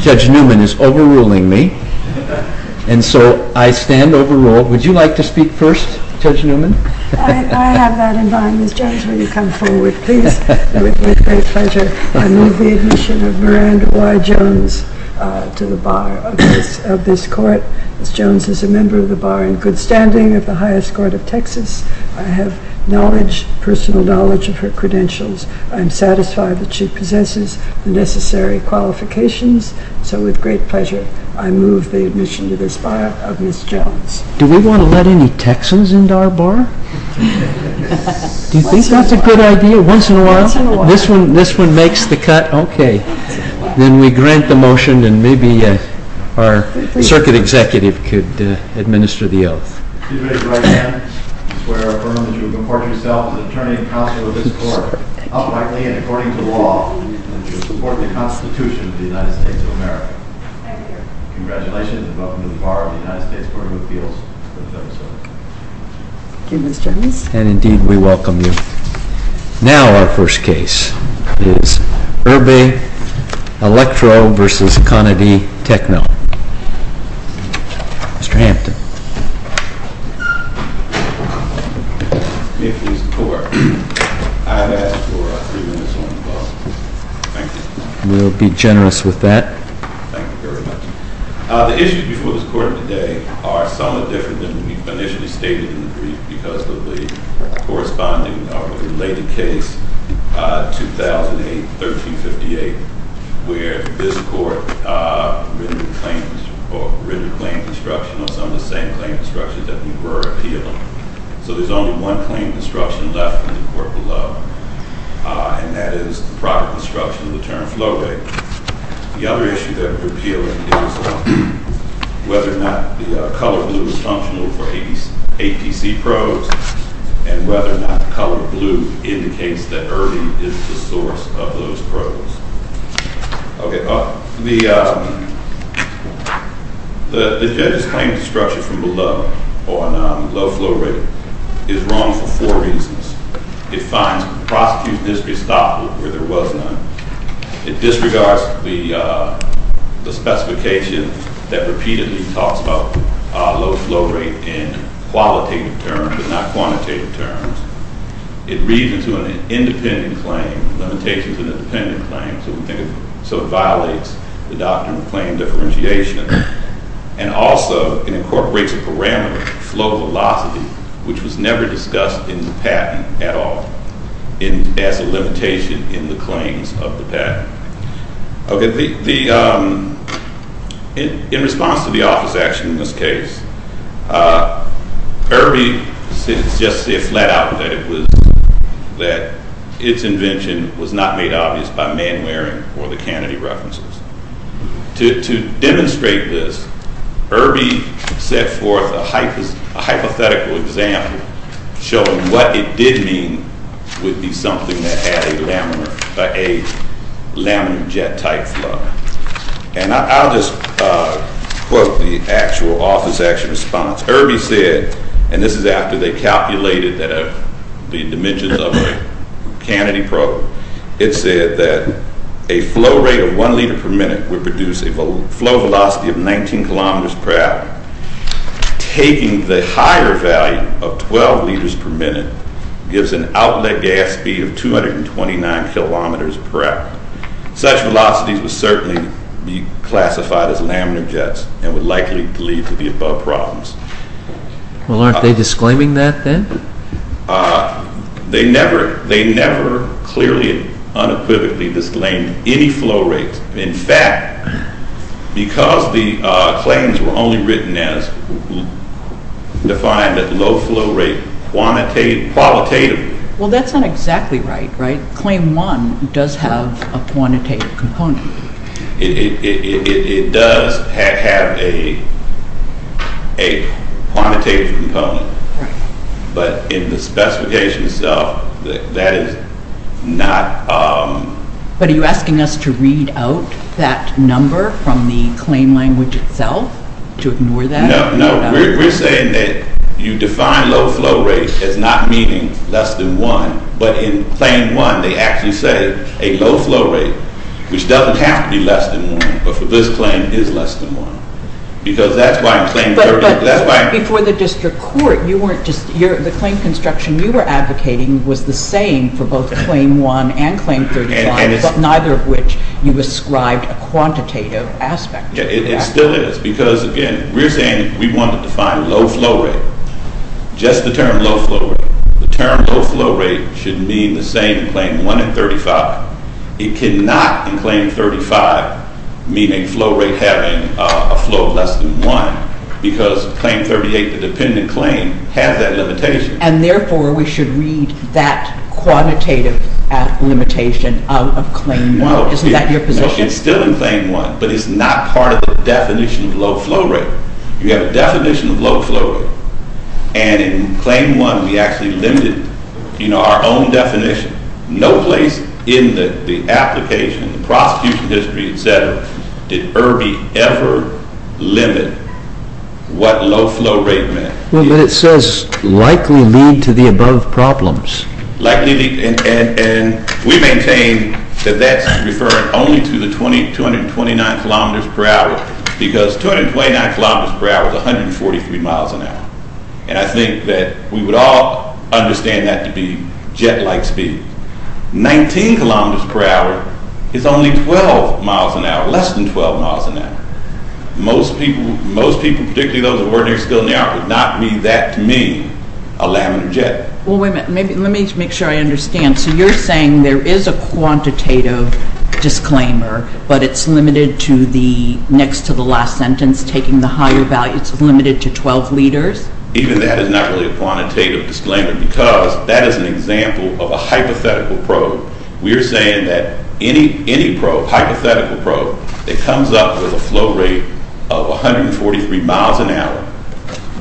Judge Newman is overruling me, and so I stand overruled. Would you like to speak first, Judge Newman? I have that in mind. Ms. Jones, will you come forward, please? It would be a great pleasure. I move the admission of Miranda Y. Jones to the bar of this court. Ms. Jones is a member of the bar in good standing of the highest court of Texas. I have knowledge, personal knowledge, of her credentials. I'm satisfied that she possesses the necessary qualifications, so with great pleasure I move the admission to this bar of Ms. Jones. Do we want to let any Texans into our bar? Do you think that's a good idea, once in a while? Once in a while. This one makes the cut? Okay. Then we grant the motion, and maybe our circuit executive could administer the oath. I swear and affirm that you will comport yourself as an attorney and counsel of this court, uprightly and according to law, and that you will support the Constitution of the United States of America. Thank you, Your Honor. Congratulations, and welcome to the bar of the United States Court of Appeals. Thank you, Ms. Jones. And indeed, we welcome you. Now our first case is Irby ELEKTROMEDIZIN v. CANADY TECHNO. Mr. Hampton. May it please the Court. I have asked for three minutes on the bus. Thank you. We'll be generous with that. Thank you very much. The issues before this Court today are somewhat different than were initially stated in the brief because of the corresponding related case, 2008-1358, where this Court rendered claims, or rendered claim construction, or some of the same claim construction that you were appealing. So there's only one claim construction left in the Court below, and that is the proper construction of the term flow rate. The other issue that we're appealing is whether or not the color blue is functional for APC probes and whether or not the color blue indicates that Irby is the source of those probes. Okay. The judge's claim to structure from below on low flow rate is wrong for four reasons. It finds prosecution history stopped where there was none. It disregards the specification that repeatedly talks about low flow rate in qualitative terms but not quantitative terms. It reads into an independent claim, limitations of an independent claim, so it violates the doctrine of claim differentiation. And also it incorporates a parameter, flow velocity, which was never discussed in the patent at all as a limitation in the claims of the patent. Okay. In response to the office action in this case, Irby just flat out that its invention was not made obvious by Mann-Waring or the Kennedy references. To demonstrate this, Irby set forth a hypothetical example showing what it did mean would be something that had a laminar jet-type flow. And I'll just quote the actual office action response. Irby said, and this is after they calculated the dimensions of a Kennedy probe, it said that a flow rate of one liter per minute would produce a flow velocity of 19 kilometers per hour. Taking the higher value of 12 liters per minute gives an outlet gas speed of 229 kilometers per hour. Such velocities would certainly be classified as laminar jets and would likely lead to the above problems. Well, aren't they disclaiming that then? They never clearly unequivocally disclaimed any flow rates. In fact, because the claims were only written as defined at low flow rate qualitatively. Well, that's not exactly right, right? Claim one does have a quantitative component. It does have a quantitative component, but in the specification itself, that is not... But are you asking us to read out that number from the claim language itself to ignore that? No, we're saying that you define low flow rates as not meaning less than one, but in claim one, they actually say a low flow rate, which doesn't have to be less than one, but for this claim is less than one. Because that's why in claim 30... But before the district court, you weren't just... The claim construction you were advocating was the same for both claim one and claim 35, but neither of which you ascribed a quantitative aspect. It still is, because again, we're saying we want to define low flow rate. Just the term low flow rate. The term low flow rate should mean the same in claim one and 35. It cannot in claim 35, meaning flow rate having a flow of less than one, because claim 38, the dependent claim, has that limitation. And therefore, we should read that quantitative limitation of claim one. Isn't that your position? No, it's still in claim one, but it's not part of the definition of low flow rate. You have a definition of low flow rate, and in claim one, we actually limited our own definition. No place in the application, the prosecution history, etc., did Irby ever limit what low flow rate meant. But it says likely lead to the above problems. Likely lead, and we maintain that that's referring only to the 229 kilometers per hour, because 229 kilometers per hour is 143 miles an hour, and I think that we would all understand that to be jet-like speed. 19 kilometers per hour is only 12 miles an hour, less than 12 miles an hour. Most people, particularly those of ordinary skill in the art, would not mean that to mean a laminar jet. Well, wait a minute. Let me make sure I understand. So you're saying there is a quantitative disclaimer, but it's limited to the next to the last sentence, taking the higher value. It's limited to 12 liters? Even that is not really a quantitative disclaimer, because that is an example of a hypothetical probe. We are saying that any probe, hypothetical probe, that comes up with a flow rate of 143 miles an hour,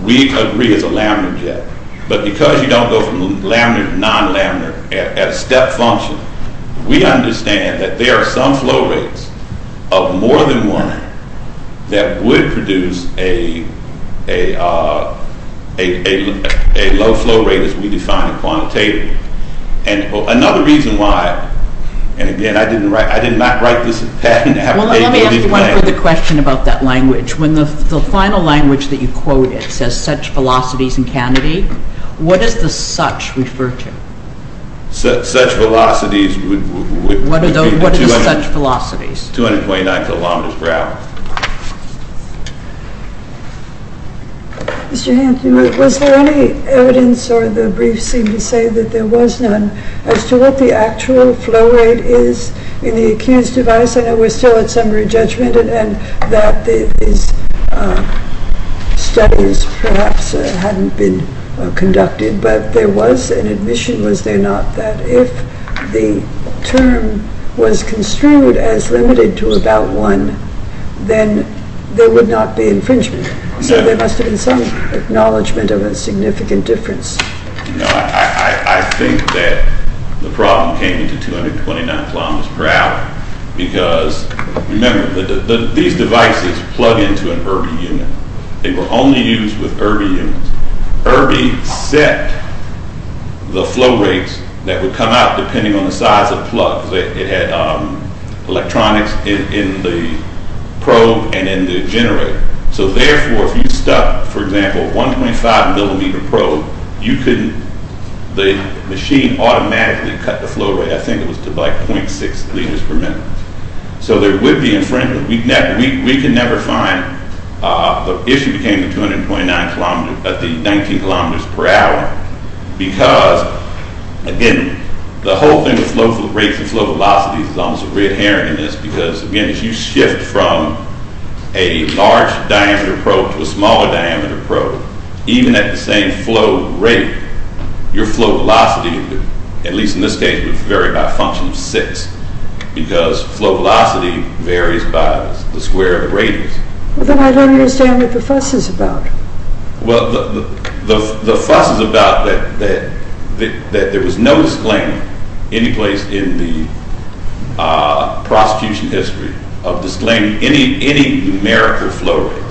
we agree is a laminar jet. But because you don't go from laminar to non-laminar, at a step function, we understand that there are some flow rates of more than one that would produce a low flow rate as we define it quantitatively. And another reason why, and again, I did not write this patent. Well, let me ask you one further question about that language. When the final language that you quoted says such velocities in Kennedy, what does the such refer to? Such velocities would be the 229 kilometers per hour. Mr. Hanson, was there any evidence, or the brief seemed to say that there was none, as to what the actual flow rate is in the accused device? I know we're still at summary judgment and that these studies perhaps hadn't been conducted, but there was an admission, was there not, that if the term was construed as limited to about one, then there would not be infringement. So there must have been some acknowledgement of a significant difference. I think that the problem came into 229 kilometers per hour because, remember, these devices plug into an Irby unit. They were only used with Irby units. Irby set the flow rates that would come out depending on the size of plugs. It had electronics in the probe and in the generator. So therefore, if you stuck, for example, a 1.5 millimeter probe, you couldn't, the machine automatically cut the flow rate. I think it was to like 0.6 liters per minute. So there would be infringement. We can never find, the issue became the 19 kilometers per hour because, again, the whole thing with rates and flow velocities is almost a red herring in this because, again, if you shift from a large diameter probe to a smaller diameter probe, even at the same flow rate, your flow velocity, at least in this case, would vary by a function of six because flow velocity varies by the square of the radius. Then I don't understand what the fuss is about. Well, the fuss is about that there was no disclaimer any place in the prosecution history of disclaiming any numerical flow rates.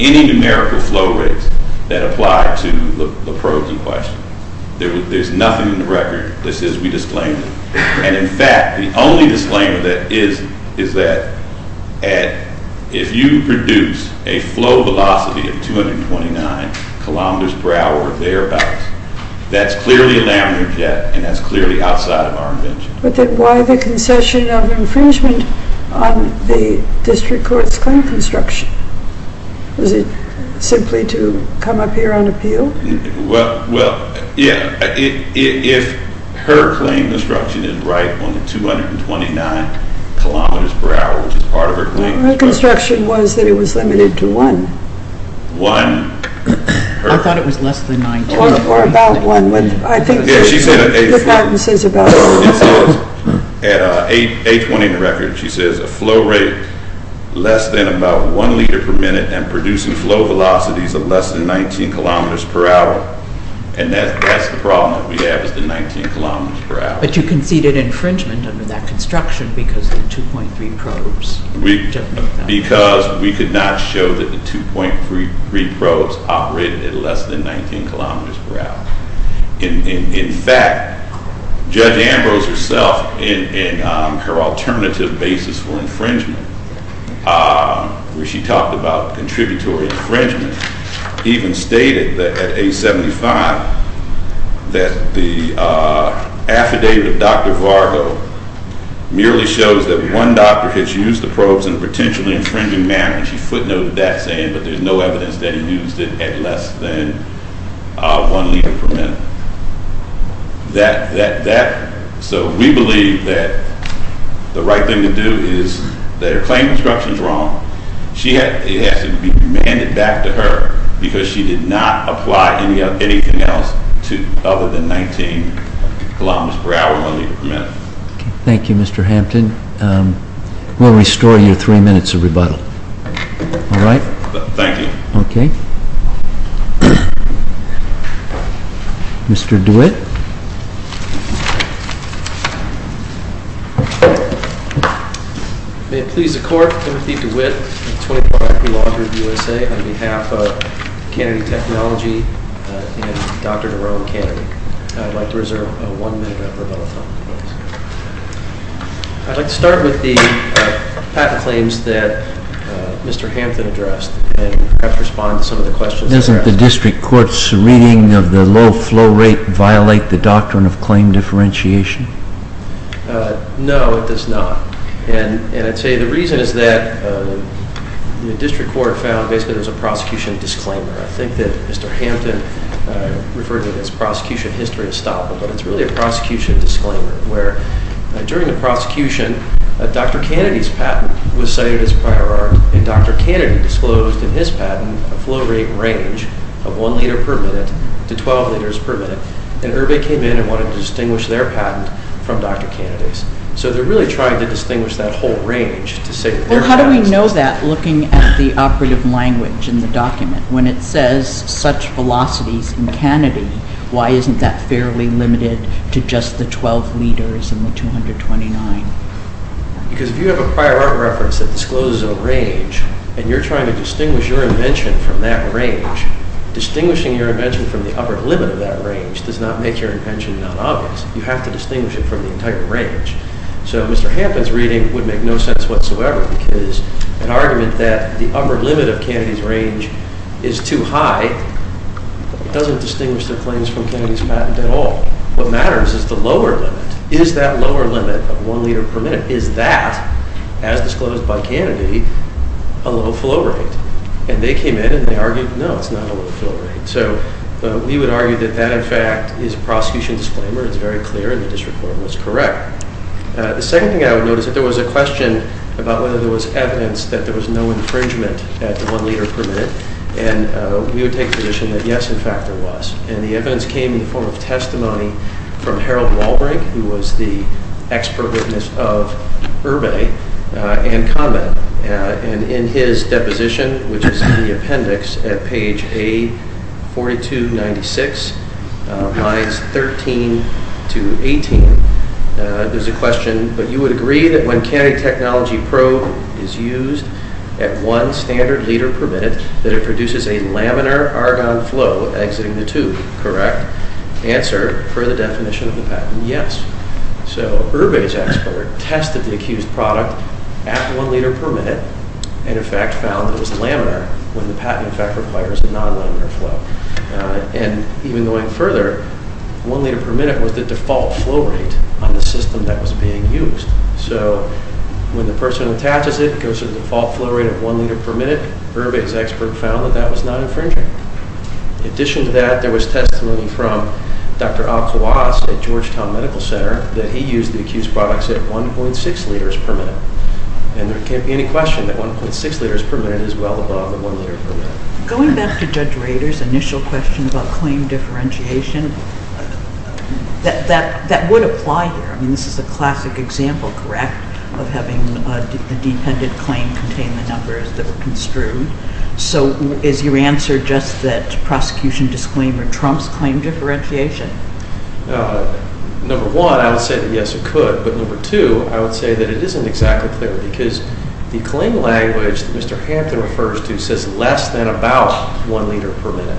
Any numerical flow rates that apply to the probes in question. There's nothing in the record that says we disclaimed it. And, in fact, the only disclaimer that is, is that if you produce a flow velocity of 229 kilometers per hour thereabouts, that's clearly a laminar jet and that's clearly outside of our invention. But then why the concession of infringement on the district court's claim construction? Was it simply to come up here on appeal? Well, yeah, if her claim construction is right on the 229 kilometers per hour, which is part of her claim. My construction was that it was limited to one. One. I thought it was less than 19. Or about one. She said at A20 in the record, she says a flow rate less than about one liter per minute and producing flow velocities of less than 19 kilometers per hour. And that's the problem that we have is the 19 kilometers per hour. But you conceded infringement under that construction because of the 2.3 probes. Because we could not show that the 2.3 probes operated at less than 19 kilometers per hour. In fact, Judge Ambrose herself in her alternative basis for infringement, where she talked about contributory infringement, even stated that at A75 that the affidavit of Dr. Vargo merely shows that one doctor has used the probes in a potentially infringing manner. And she footnoted that saying that there's no evidence that he used it at less than one liter per minute. So we believe that the right thing to do is that her claim construction is wrong. It has to be demanded back to her because she did not apply anything else to other than 19 kilometers per hour, one liter per minute. Thank you, Mr. Hampton. We'll restore you three minutes of rebuttal. All right? Thank you. Okay. Mr. DeWitt. May it please the Court, Timothy DeWitt, 24th Army Law Group, USA, on behalf of Kennedy Technology and Dr. Jerome Kennedy. I'd like to reserve one minute of rebuttal time. I'd like to start with the patent claims that Mr. Hampton addressed and perhaps respond to some of the questions. Doesn't the district court's reading of the low flow rate violate the doctrine of claim differentiation? No, it does not. And I'd say the reason is that the district court found basically there's a prosecution disclaimer. I think that Mr. Hampton referred to it as prosecution history estoppel, but it's really a prosecution disclaimer where during the prosecution, Dr. Kennedy's patent was cited as prior art, and Dr. Kennedy disclosed in his patent a flow rate range of one liter per minute to 12 liters per minute. And Irby came in and wanted to distinguish their patent from Dr. Kennedy's. So they're really trying to distinguish that whole range to say that their patent is— How do we know that looking at the operative language in the document? When it says such velocities in Kennedy, why isn't that fairly limited to just the 12 liters and the 229? Because if you have a prior art reference that discloses a range, and you're trying to distinguish your invention from that range, distinguishing your invention from the upper limit of that range does not make your invention non-obvious. You have to distinguish it from the entire range. So Mr. Hampton's reading would make no sense whatsoever because an argument that the upper limit of Kennedy's range is too high doesn't distinguish their claims from Kennedy's patent at all. What matters is the lower limit. Is that lower limit of one liter per minute, is that, as disclosed by Kennedy, a low flow rate? And they came in and they argued, no, it's not a low flow rate. So we would argue that that, in fact, is a prosecution disclaimer. It's very clear, and the district court was correct. The second thing I would note is that there was a question about whether there was evidence that there was no infringement at the one liter per minute. And we would take the position that, yes, in fact, there was. And the evidence came in the form of testimony from Harold Walbrink, who was the expert witness of Herbe and Kahneman. And in his deposition, which is in the appendix at page A4296, lines 13 to 18, there's a question, but you would agree that when Kennedy Technology Probe is used at one standard liter per minute, that it produces a laminar argon flow exiting the tube, correct? Answer, for the definition of the patent, yes. So Herbe's expert tested the accused product at one liter per minute and, in fact, found that it was laminar when the patent, in fact, requires a non-laminar flow. And even going further, one liter per minute was the default flow rate on the system that was being used. So when the person attaches it, it goes to the default flow rate of one liter per minute. Herbe's expert found that that was not infringing. In addition to that, there was testimony from Dr. Al Kawas at Georgetown Medical Center that he used the accused products at 1.6 liters per minute. And there can't be any question that 1.6 liters per minute is well above the one liter per minute. Going back to Judge Rader's initial question about claim differentiation, that would apply here. I mean, this is a classic example, correct, of having a dependent claim contain the numbers that were construed. So is your answer just that prosecution disclaimer trumps claim differentiation? Number one, I would say that, yes, it could. But number two, I would say that it isn't exactly clear because the claim language that Mr. Hampton refers to says less than about one liter per minute.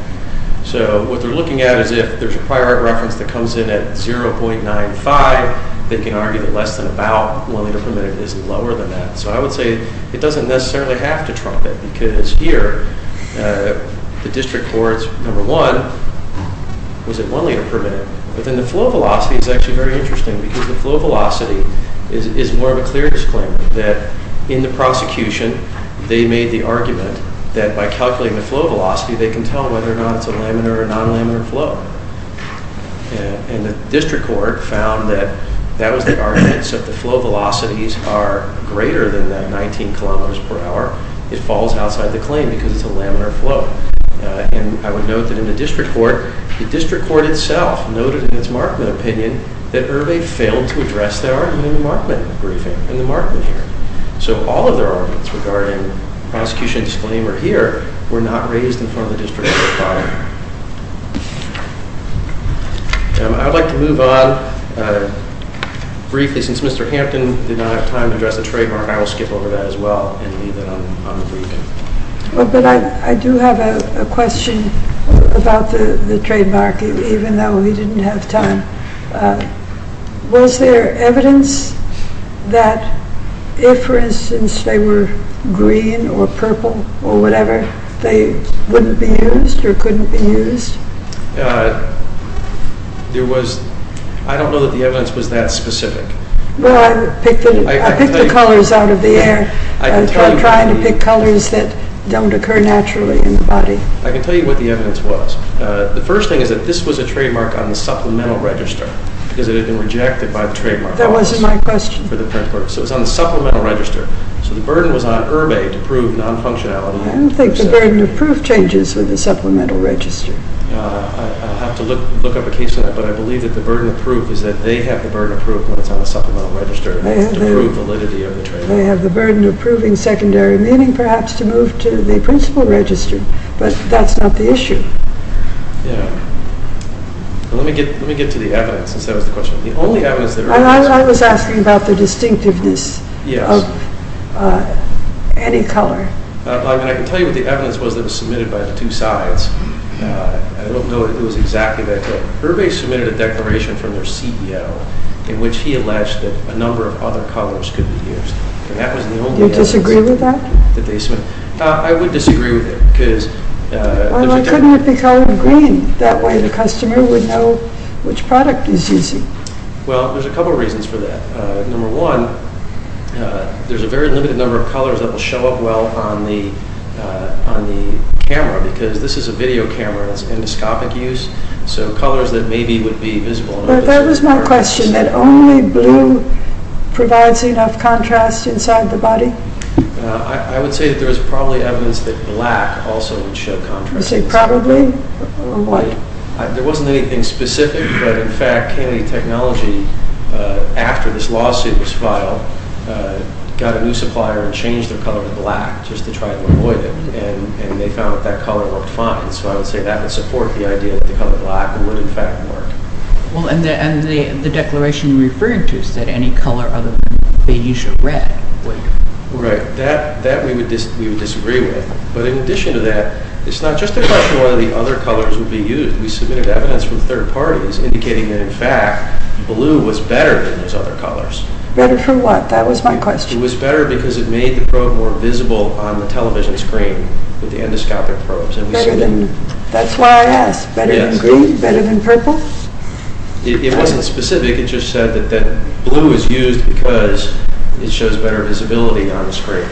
So what they're looking at is if there's a prior art reference that comes in at 0.95, they can argue that less than about one liter per minute is lower than that. So I would say it doesn't necessarily have to trump it because here the district court's number one was at one liter per minute. But then the flow velocity is actually very interesting because the flow velocity is more of a clearness claim that in the prosecution they made the argument that by calculating the flow velocity, they can tell whether or not it's a laminar or non-laminar flow. And the district court found that that was the argument, so if the flow velocities are greater than that 19 kilometers per hour, it falls outside the claim because it's a laminar flow. And I would note that in the district court, the district court itself noted in its Markman opinion that Irving failed to address the argument in the Markman briefing, in the Markman hearing. So all of their arguments regarding prosecution disclaimer here were not raised in front of the district court. I'd like to move on briefly since Mr. Hampton did not have time to address the trademark, I will skip over that as well and leave it on the brief. But I do have a question about the trademark even though we didn't have time. Was there evidence that if, for instance, they were green or purple or whatever, they wouldn't be used or couldn't be used? I don't know that the evidence was that specific. Well, I picked the colors out of the air. I'm trying to pick colors that don't occur naturally in the body. I can tell you what the evidence was. The first thing is that this was a trademark on the supplemental register because it had been rejected by the trademark office. That wasn't my question. So it was on the supplemental register. So the burden was on Irving to prove non-functionality. I don't think the burden of proof changes with the supplemental register. I'll have to look up a case on that, but I believe that the burden of proof is that they have the burden of proof when it's on the supplemental register to prove validity of the trademark. They have the burden of proving secondary meaning perhaps to move to the principal register, but that's not the issue. Let me get to the evidence, since that was the question. I was asking about the distinctiveness of any color. I can tell you what the evidence was that was submitted by the two sides. I don't know that it was exactly that. Irving submitted a declaration from their CEO in which he alleged that a number of other colors could be used. Do you disagree with that? I would disagree with it. Why couldn't it be colored green? That way the customer would know which product he's using. Well, there's a couple of reasons for that. Number one, there's a very limited number of colors that will show up well on the camera because this is a video camera. It's endoscopic use, so colors that maybe would be visible. But that was my question, that only blue provides enough contrast inside the body? I would say that there was probably evidence that black also would show contrast. You say probably? There wasn't anything specific, but in fact Kennedy Technology, after this lawsuit was filed, got a new supplier and changed their color to black just to try to avoid it, and they found that that color worked fine. So I would say that would support the idea that the color black would in fact work. Well, and the declaration you're referring to said any color other than beige or red would. Right. That we would disagree with. But in addition to that, it's not just a question of whether the other colors would be used. We submitted evidence from third parties indicating that, in fact, blue was better than those other colors. Better for what? That was my question. It was better because it made the probe more visible on the television screen with the endoscopic probes. That's why I asked. Better than green? Better than purple? It wasn't specific. It just said that blue is used because it shows better visibility on the screen.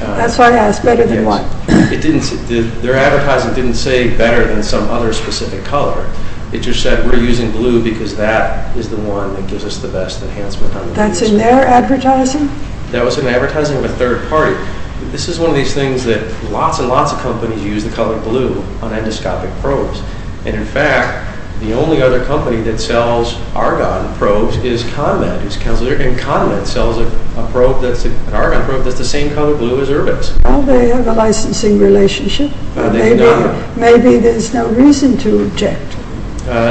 That's why I asked. Better than what? Their advertising didn't say better than some other specific color. It just said we're using blue because that is the one that gives us the best enhancement on the screen. That's in their advertising? That was in the advertising of a third party. This is one of these things that lots and lots of companies use the color blue on endoscopic probes. And, in fact, the only other company that sells argon probes is ConVet. And ConVet sells an argon probe that's the same color blue as Urbex. Well, they have a licensing relationship. They do not. Maybe there's no reason to object.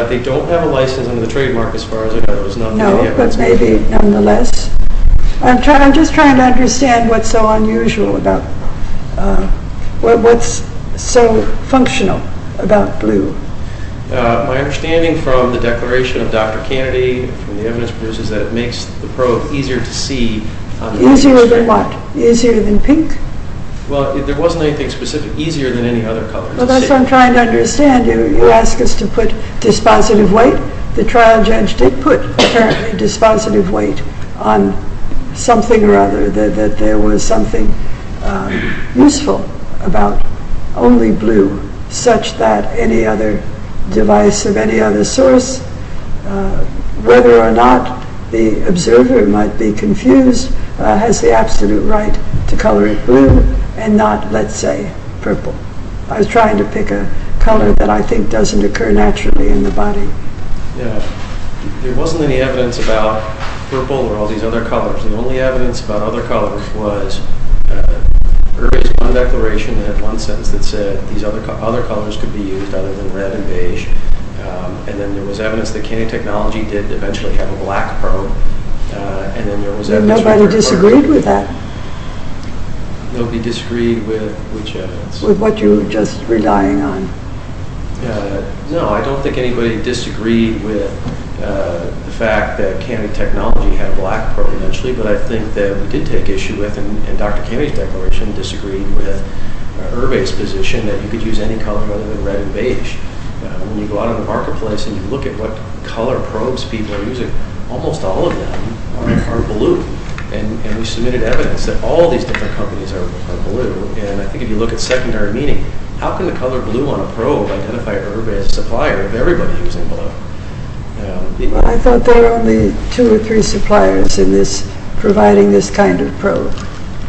They don't have a license under the trademark as far as I know. No, but maybe nonetheless. I'm just trying to understand what's so unusual about what's so functional about blue. My understanding from the declaration of Dr. Kennedy, from the evidence producers, is that it makes the probe easier to see on the screen. Easier than what? Easier than pink? Well, there wasn't anything specific easier than any other color. Well, that's what I'm trying to understand. You asked us to put dispositive weight. The trial judge did put, apparently, dispositive weight on something or other, that there was something useful about only blue, such that any other device of any other source, whether or not the observer might be confused, has the absolute right to color it blue and not, let's say, purple. I was trying to pick a color that I think doesn't occur naturally in the body. Yeah. There wasn't any evidence about purple or all these other colors. The only evidence about other colors was, there was one declaration that had one sentence that said, these other colors could be used other than red and beige, and then there was evidence that Kennedy Technology did eventually have a black probe, and then there was evidence... Nobody disagreed with that? Nobody disagreed with which evidence? With what you were just relying on? No, I don't think anybody disagreed with the fact that Kennedy Technology had a black probe, but I think that we did take issue with, and Dr. Kennedy's declaration disagreed with, Herve's position that you could use any color other than red and beige. When you go out in the marketplace and you look at what color probes people are using, almost all of them are blue, and we submitted evidence that all these different companies are blue. I think if you look at secondary meaning, how can the color blue on a probe identify Herve as a supplier of everybody using blue? I thought there were only two or three suppliers providing this kind of probe.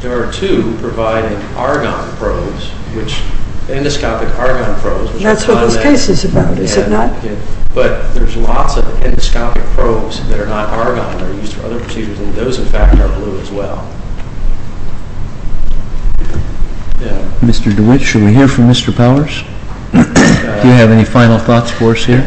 There are two providing argon probes, endoscopic argon probes. That's what this case is about, is it not? But there's lots of endoscopic probes that are not argon that are used for other procedures, and those, in fact, are blue as well. Mr. DeWitt, should we hear from Mr. Powers? Do you have any final thoughts for us here?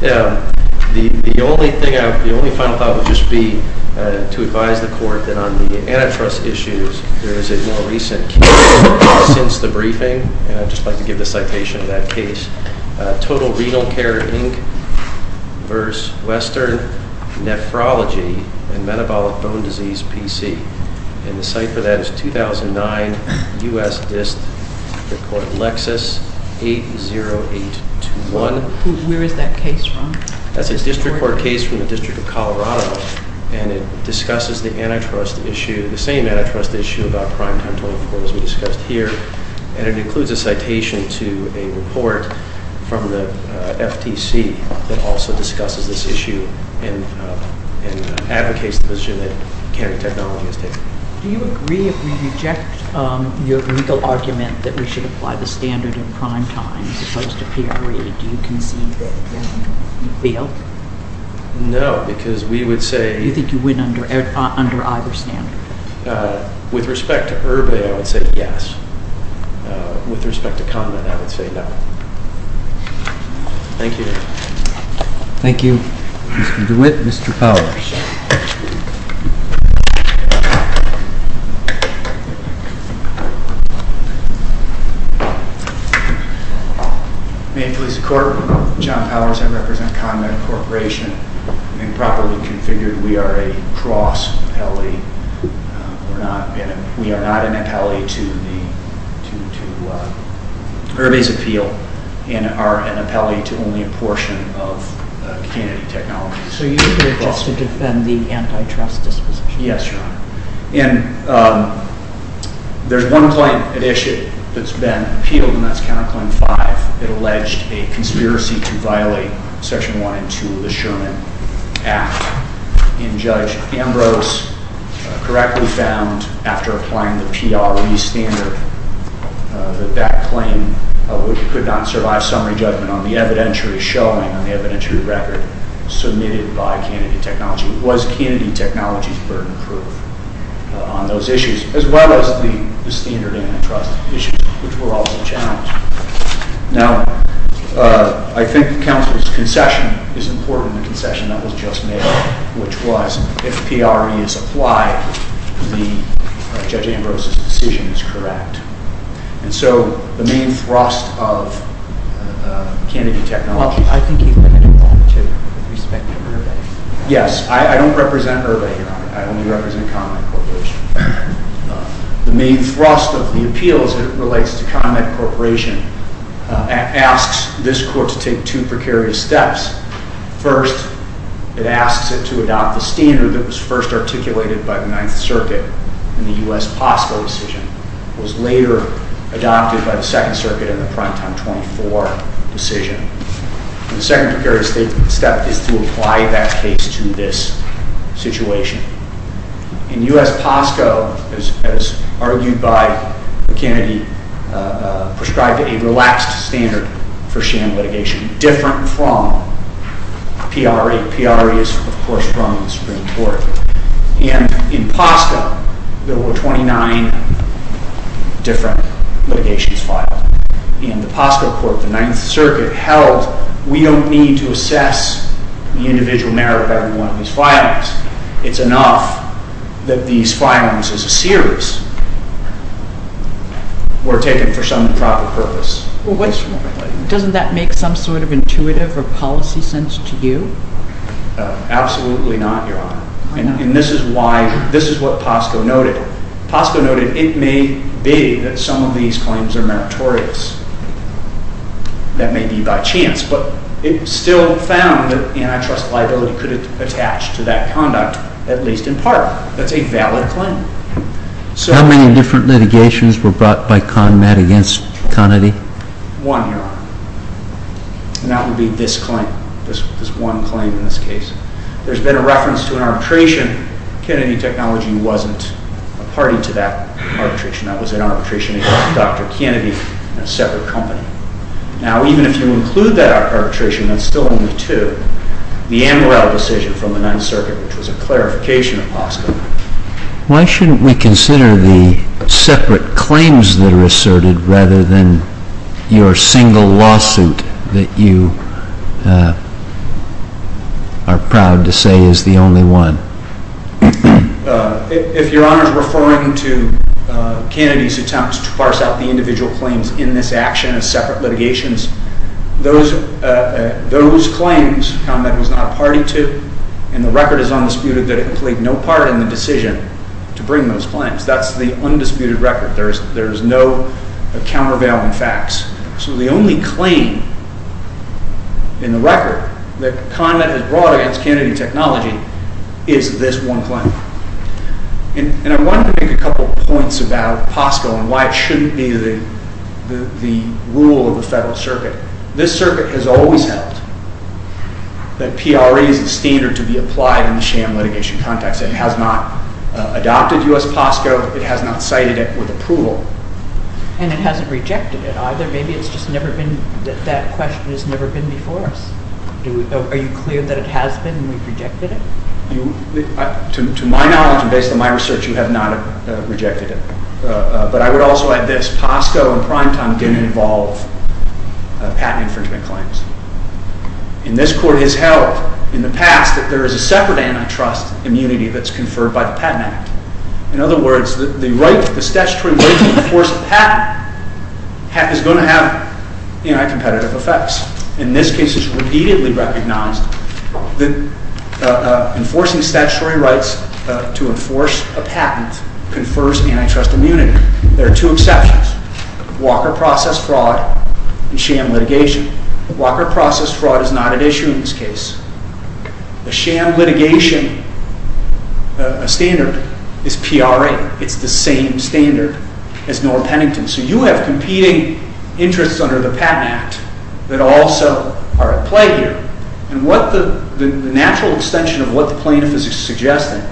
The only final thought would just be to advise the Court that on the antitrust issues, there is a more recent case since the briefing, and I'd just like to give the citation of that case, Total Renal Care, Inc. vs. Western Nephrology and Metabolic Bone Disease, P.C. And the site for that is 2009, U.S. District Court, Lexis, 80821. Where is that case from? That's a district court case from the District of Colorado, and it discusses the antitrust issue, the same antitrust issue about primetime 24 as we discussed here, and it includes a citation to a report from the FTC that also discusses this issue and advocates the position that county technology has taken. Do you agree if we reject your legal argument that we should apply the standard in primetime as opposed to period, do you concede that you failed? No, because we would say... Do you think you win under either standard? With respect to Irby, I would say yes. With respect to Conrad, I would say no. Thank you. Thank you, Mr. DeWitt. Mr. Powers. May it please the Court, John Powers. I represent Conrad Corporation. I think properly configured, we are a cross appellee. We are not an appellee to Irby's appeal and are an appellee to only a portion of Kennedy Technologies. So you're here just to defend the antitrust disposition? Yes, Your Honor. And there's one claim at issue that's been appealed, and that's Counterclaim 5. It alleged a conspiracy to violate Section 1 and 2 of the Sherman Act. And Judge Ambrose correctly found, after applying the PRE standard, that that claim could not survive summary judgment on the evidentiary showing, on the evidentiary record submitted by Kennedy Technologies. Was Kennedy Technologies burden-proof on those issues, as well as the standard antitrust issues, which were also challenged? Now, I think the counsel's concession is important, the concession that was just made, which was, if PRE is applied, Judge Ambrose's decision is correct. And so the main thrust of Kennedy Technologies... Well, I think you've been involved, too, with respect to Irby. Yes, I don't represent Irby, Your Honor. I only represent Conrad Corporation. The main thrust of the appeal, as it relates to Conrad Corporation, asks this Court to take two precarious steps. First, it asks it to adopt the standard that was first articulated by the Ninth Circuit in the U.S. POSCO decision. It was later adopted by the Second Circuit in the Primetime 24 decision. The second precarious step is to apply that case to this situation. In U.S. POSCO, as argued by Kennedy, prescribed a relaxed standard for sham litigation, different from PRE. PRE is, of course, from the Supreme Court. And in POSCO, there were 29 different litigations filed. In the POSCO Court, the Ninth Circuit held, we don't need to assess the individual merit of every one of these filings. It's enough that these filings as a series were taken for some proper purpose. Doesn't that make some sort of intuitive or policy sense to you? Absolutely not, Your Honor. And this is what POSCO noted. POSCO noted it may be that some of these claims are meritorious. That may be by chance. But it still found that antitrust liability could attach to that conduct, at least in part. That's a valid claim. How many different litigations were brought by CONMED against Kennedy? One, Your Honor. And that would be this claim, this one claim in this case. There's been a reference to an arbitration. Kennedy Technology wasn't a party to that arbitration. That was an arbitration between Dr. Kennedy and a separate company. Now, even if you include that arbitration, that's still only two. The Amaral decision from the Ninth Circuit, which was a clarification of POSCO. Why shouldn't we consider the separate claims that are asserted rather than your single lawsuit that you are proud to say is the only one? If Your Honor is referring to Kennedy's attempts to parse out the individual claims in this action as separate litigations, those claims CONMED was not a party to, and the record is undisputed that it played no part in the decision to bring those claims. That's the undisputed record. There is no countervailing facts. So the only claim in the record that CONMED has brought against Kennedy Technology is this one claim. And I want to make a couple points about POSCO and why it shouldn't be the rule of the Federal Circuit. This circuit has always held that PRE is the standard to be applied in the sham litigation context. It has not adopted U.S. POSCO. It has not cited it with approval. And it hasn't rejected it either. Maybe it's just never been, that question has never been before us. Are you clear that it has been and we've rejected it? To my knowledge and based on my research, you have not rejected it. But I would also add this. POSCO and PRIMETIME didn't involve patent infringement claims. And this court has held in the past that there is a separate antitrust immunity that's conferred by the Patent Act. In other words, the statutory right to enforce a patent is going to have anti-competitive effects. And this case is repeatedly recognized that enforcing statutory rights to enforce a patent confers antitrust immunity. There are two exceptions, Walker Process Fraud and sham litigation. Walker Process Fraud is not at issue in this case. The sham litigation standard is PRA. It's the same standard as Noah Pennington. So you have competing interests under the Patent Act that also are at play here. And what the natural extension of what the plaintiff is suggesting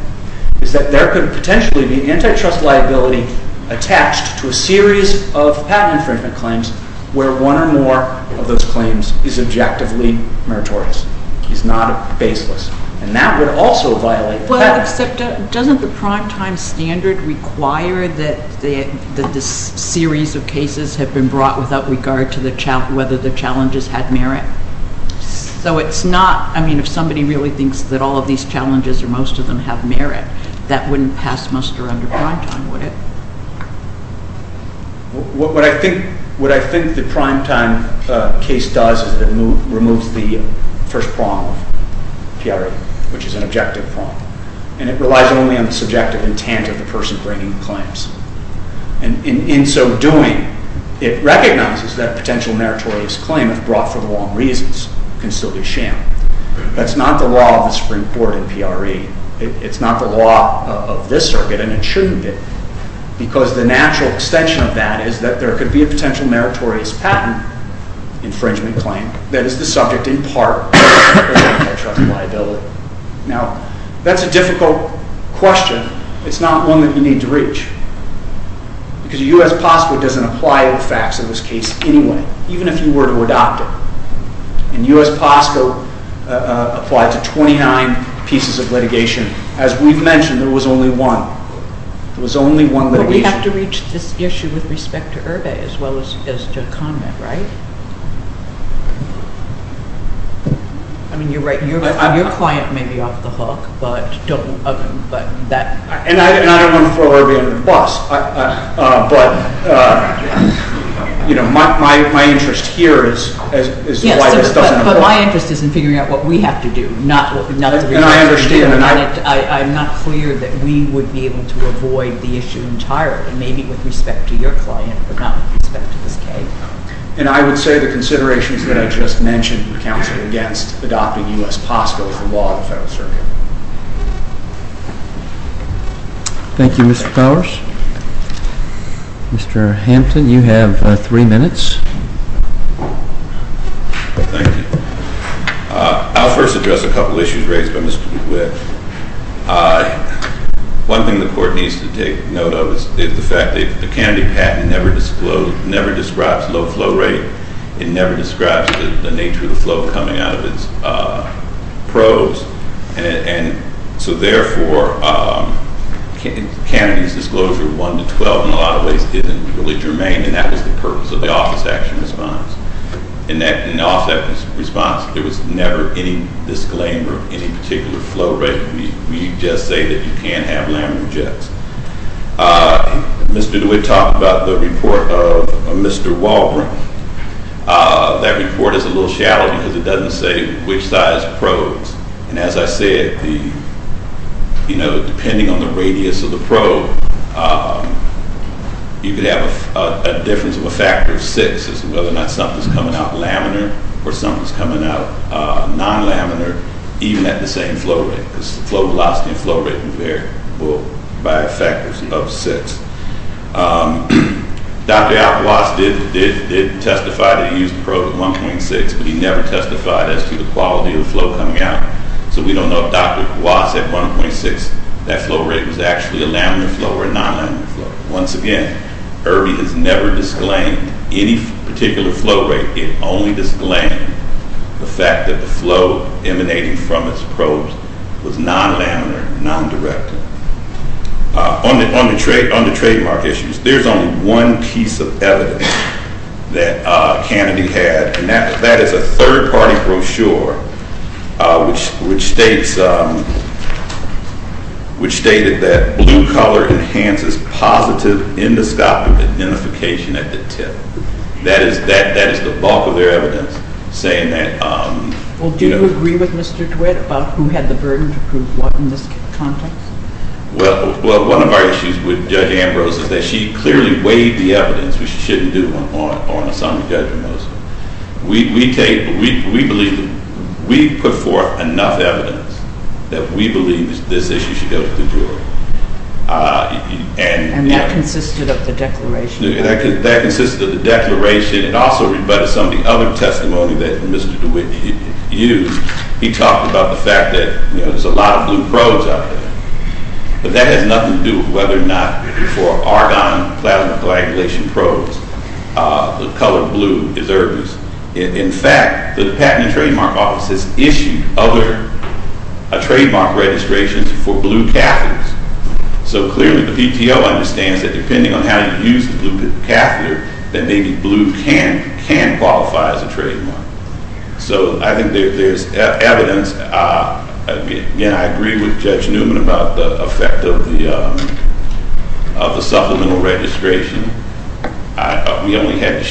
is that there could potentially be antitrust liability attached to a series of patent infringement claims where one or more of those claims is objectively meritorious. It's not baseless. And that would also violate the patent. Except doesn't the primetime standard require that this series of cases have been brought without regard to whether the challenges had merit? So it's not, I mean, if somebody really thinks that all of these challenges or most of them have merit, that wouldn't pass muster under primetime, would it? What I think the primetime case does is it removes the first prong of PRA, which is an objective prong. And it relies only on the subjective intent of the person bringing the claims. And in so doing, it recognizes that potential meritorious claim, if brought for the wrong reasons, can still be shammed. That's not the law of the Supreme Court in PRA. It's not the law of this circuit, and it shouldn't be. Because the natural extension of that is that there could be a potential meritorious patent infringement claim that is the subject in part of antitrust liability. Now, that's a difficult question. It's not one that you need to reach. Because U.S. POSCO doesn't apply to the facts of this case anyway, even if you were to adopt it. And U.S. POSCO applied to 29 pieces of litigation. As we've mentioned, there was only one. There was only one litigation. But we have to reach this issue with respect to Irby as well as to Conrad, right? I mean, you're right. Your client may be off the hook, but don't... And I don't want to throw Irby under the bus. But, you know, my interest here is why this doesn't apply. But my interest is in figuring out what we have to do. And I understand. I'm not clear that we would be able to avoid the issue entirely. Maybe with respect to your client, but not with respect to this case. And I would say the considerations that I just mentioned, counsel, against adopting U.S. POSCO is the law of the Federal Circuit. Thank you, Mr. Powers. Mr. Hampton, you have three minutes. Thank you. I'll first address a couple of issues raised by Mr. DeWitt. One thing the Court needs to take note of is the fact that the Kennedy patent never describes low flow rate. It never describes the nature of the flow coming out of its probes. And so, therefore, Kennedy's disclosure of 1 to 12 in a lot of ways isn't really germane, and that was the purpose of the office action response. And off that response, there was never any disclaimer of any particular flow rate. We just say that you can't have laminar jets. Mr. DeWitt talked about the report of Mr. Walbring. That report is a little shallow because it doesn't say which size probes and, as I said, you know, depending on the radius of the probe, you could have a difference of a factor of six as to whether or not something's coming out laminar or something's coming out non-laminar even at the same flow rate because the flow velocity and flow rate will vary by a factor of six. Dr. Aquas did testify that he used a probe at 1.6, but he never testified as to the quality of the flow coming out. So we don't know if Dr. Aquas at 1.6, that flow rate was actually a laminar flow or a non-laminar flow. Once again, Irby has never disclaimed any particular flow rate. It only disclaimed the fact that the flow emanating from its probes was non-laminar, non-directed. On the trademark issues, there's only one piece of evidence that Kennedy had, and that is a third-party brochure which states that blue color enhances positive endoscopic identification at the tip. That is the bulk of their evidence saying that. Well, do you agree with Mr. DeWitt about who had the burden to prove what in this context? Well, one of our issues with Judge Ambrose is that she clearly weighed the evidence, which she shouldn't do on Assam Judge Ambrose. We put forth enough evidence that we believe this issue should go to the jury. And that consisted of the declaration? That consisted of the declaration. It also rebutted some of the other testimony that Mr. DeWitt used. He talked about the fact that there's a lot of blue probes out there, but that has nothing to do with whether or not for argon plasma coagulation probes the color blue is Irby's. In fact, the Patent and Trademark Office has issued other trademark registrations for blue catheters. So clearly the PTO understands that depending on how you use the blue catheter, that maybe blue can qualify as a trademark. So I think there's evidence. Again, I agree with Judge Newman about the effect of the supplemental registration. We only had to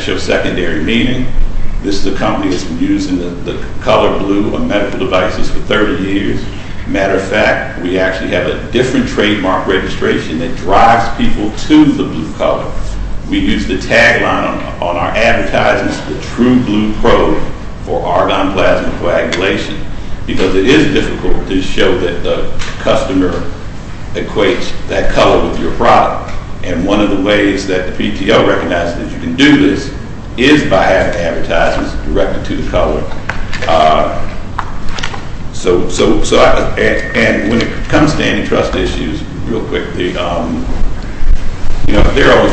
show secondary meaning. This is a company that's been using the color blue on medical devices for 30 years. Matter of fact, we actually have a different trademark registration that drives people to the blue color. We use the tagline on our advertisements, the true blue probe for argon plasma coagulation, because it is difficult to show that the customer equates that color with your product. And one of the ways that the PTO recognizes that you can do this is by having advertisements directed to the color. So when it comes to antitrust issues, real quickly, there are only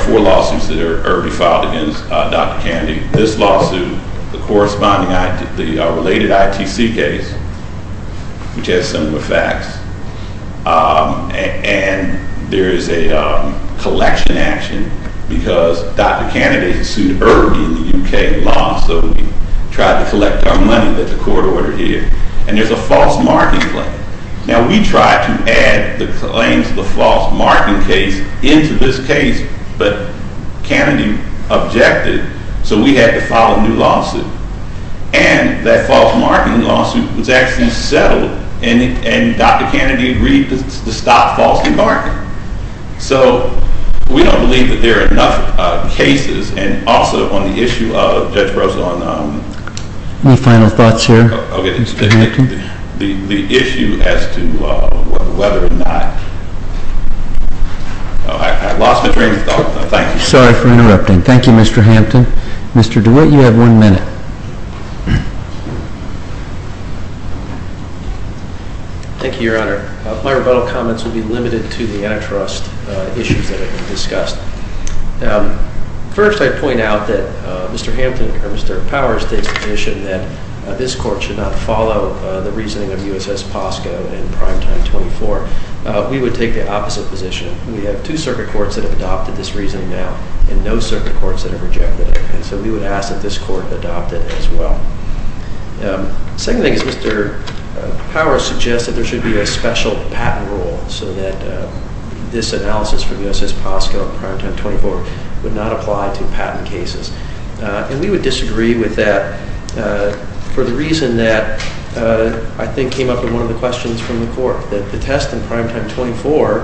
four lawsuits that Irby filed against Dr. Kennedy. This lawsuit, the related ITC case, which has similar facts, and there is a collection action because Dr. Kennedy sued Irby in the U.K. law, so we tried to collect our money that the court ordered here. And there's a false marking claim. Now, we tried to add the claims of the false marking case into this case, but Kennedy objected, so we had to file a new lawsuit. And that false marking lawsuit was actually settled, and Dr. Kennedy agreed to stop falsely marking. So we don't believe that there are enough cases. And also, on the issue of Judge Russell and— Any final thoughts here, Mr. Hampton? The issue as to whether or not—I lost my train of thought. Thank you. Sorry for interrupting. Thank you, Mr. Hampton. Mr. DeWitt, you have one minute. Thank you, Your Honor. My rebuttal comments will be limited to the antitrust issues that have been discussed. First, I'd point out that Mr. Hampton, or Mr. Powers, takes the position that this court should not follow the reasoning of U.S.S. POSCO and Primetime 24. We would take the opposite position. We have two circuit courts that have adopted this reasoning now and no circuit courts that have rejected it, and so we would ask that this court adopt it as well. Second thing is Mr. Powers suggests that there should be a special patent rule so that this analysis from U.S.S. POSCO and Primetime 24 would not apply to patent cases. And we would disagree with that for the reason that I think came up in one of the questions from the court, that the test in Primetime 24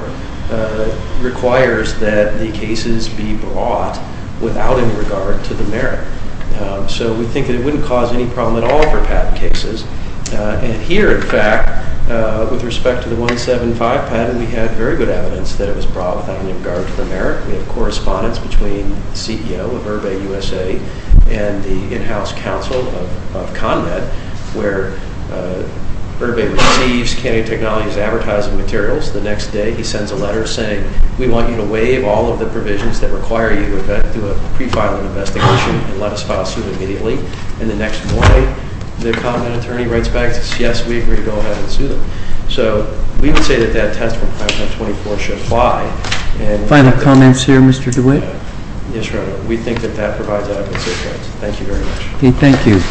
requires that the cases be brought without any regard to the merit. So we think that it wouldn't cause any problem at all for patent cases. And here, in fact, with respect to the 175 patent, we had very good evidence that it was brought without any regard to the merit. We have correspondence between the CEO of UrbA USA and the in-house counsel of ConMed where UrbA receives Kennedy Technologies' advertising materials. The next day, he sends a letter saying, we want you to waive all of the provisions that require you to do a pre-filing investigation and let us file a suit immediately. And the next morning, the ConMed attorney writes back and says, yes, we agree to go ahead and sue them. So we would say that that test from Primetime 24 should apply. Final comments here, Mr. DeWitt? Yes, Your Honor. We think that that provides adequate safeguards. Thank you very much. Thank you.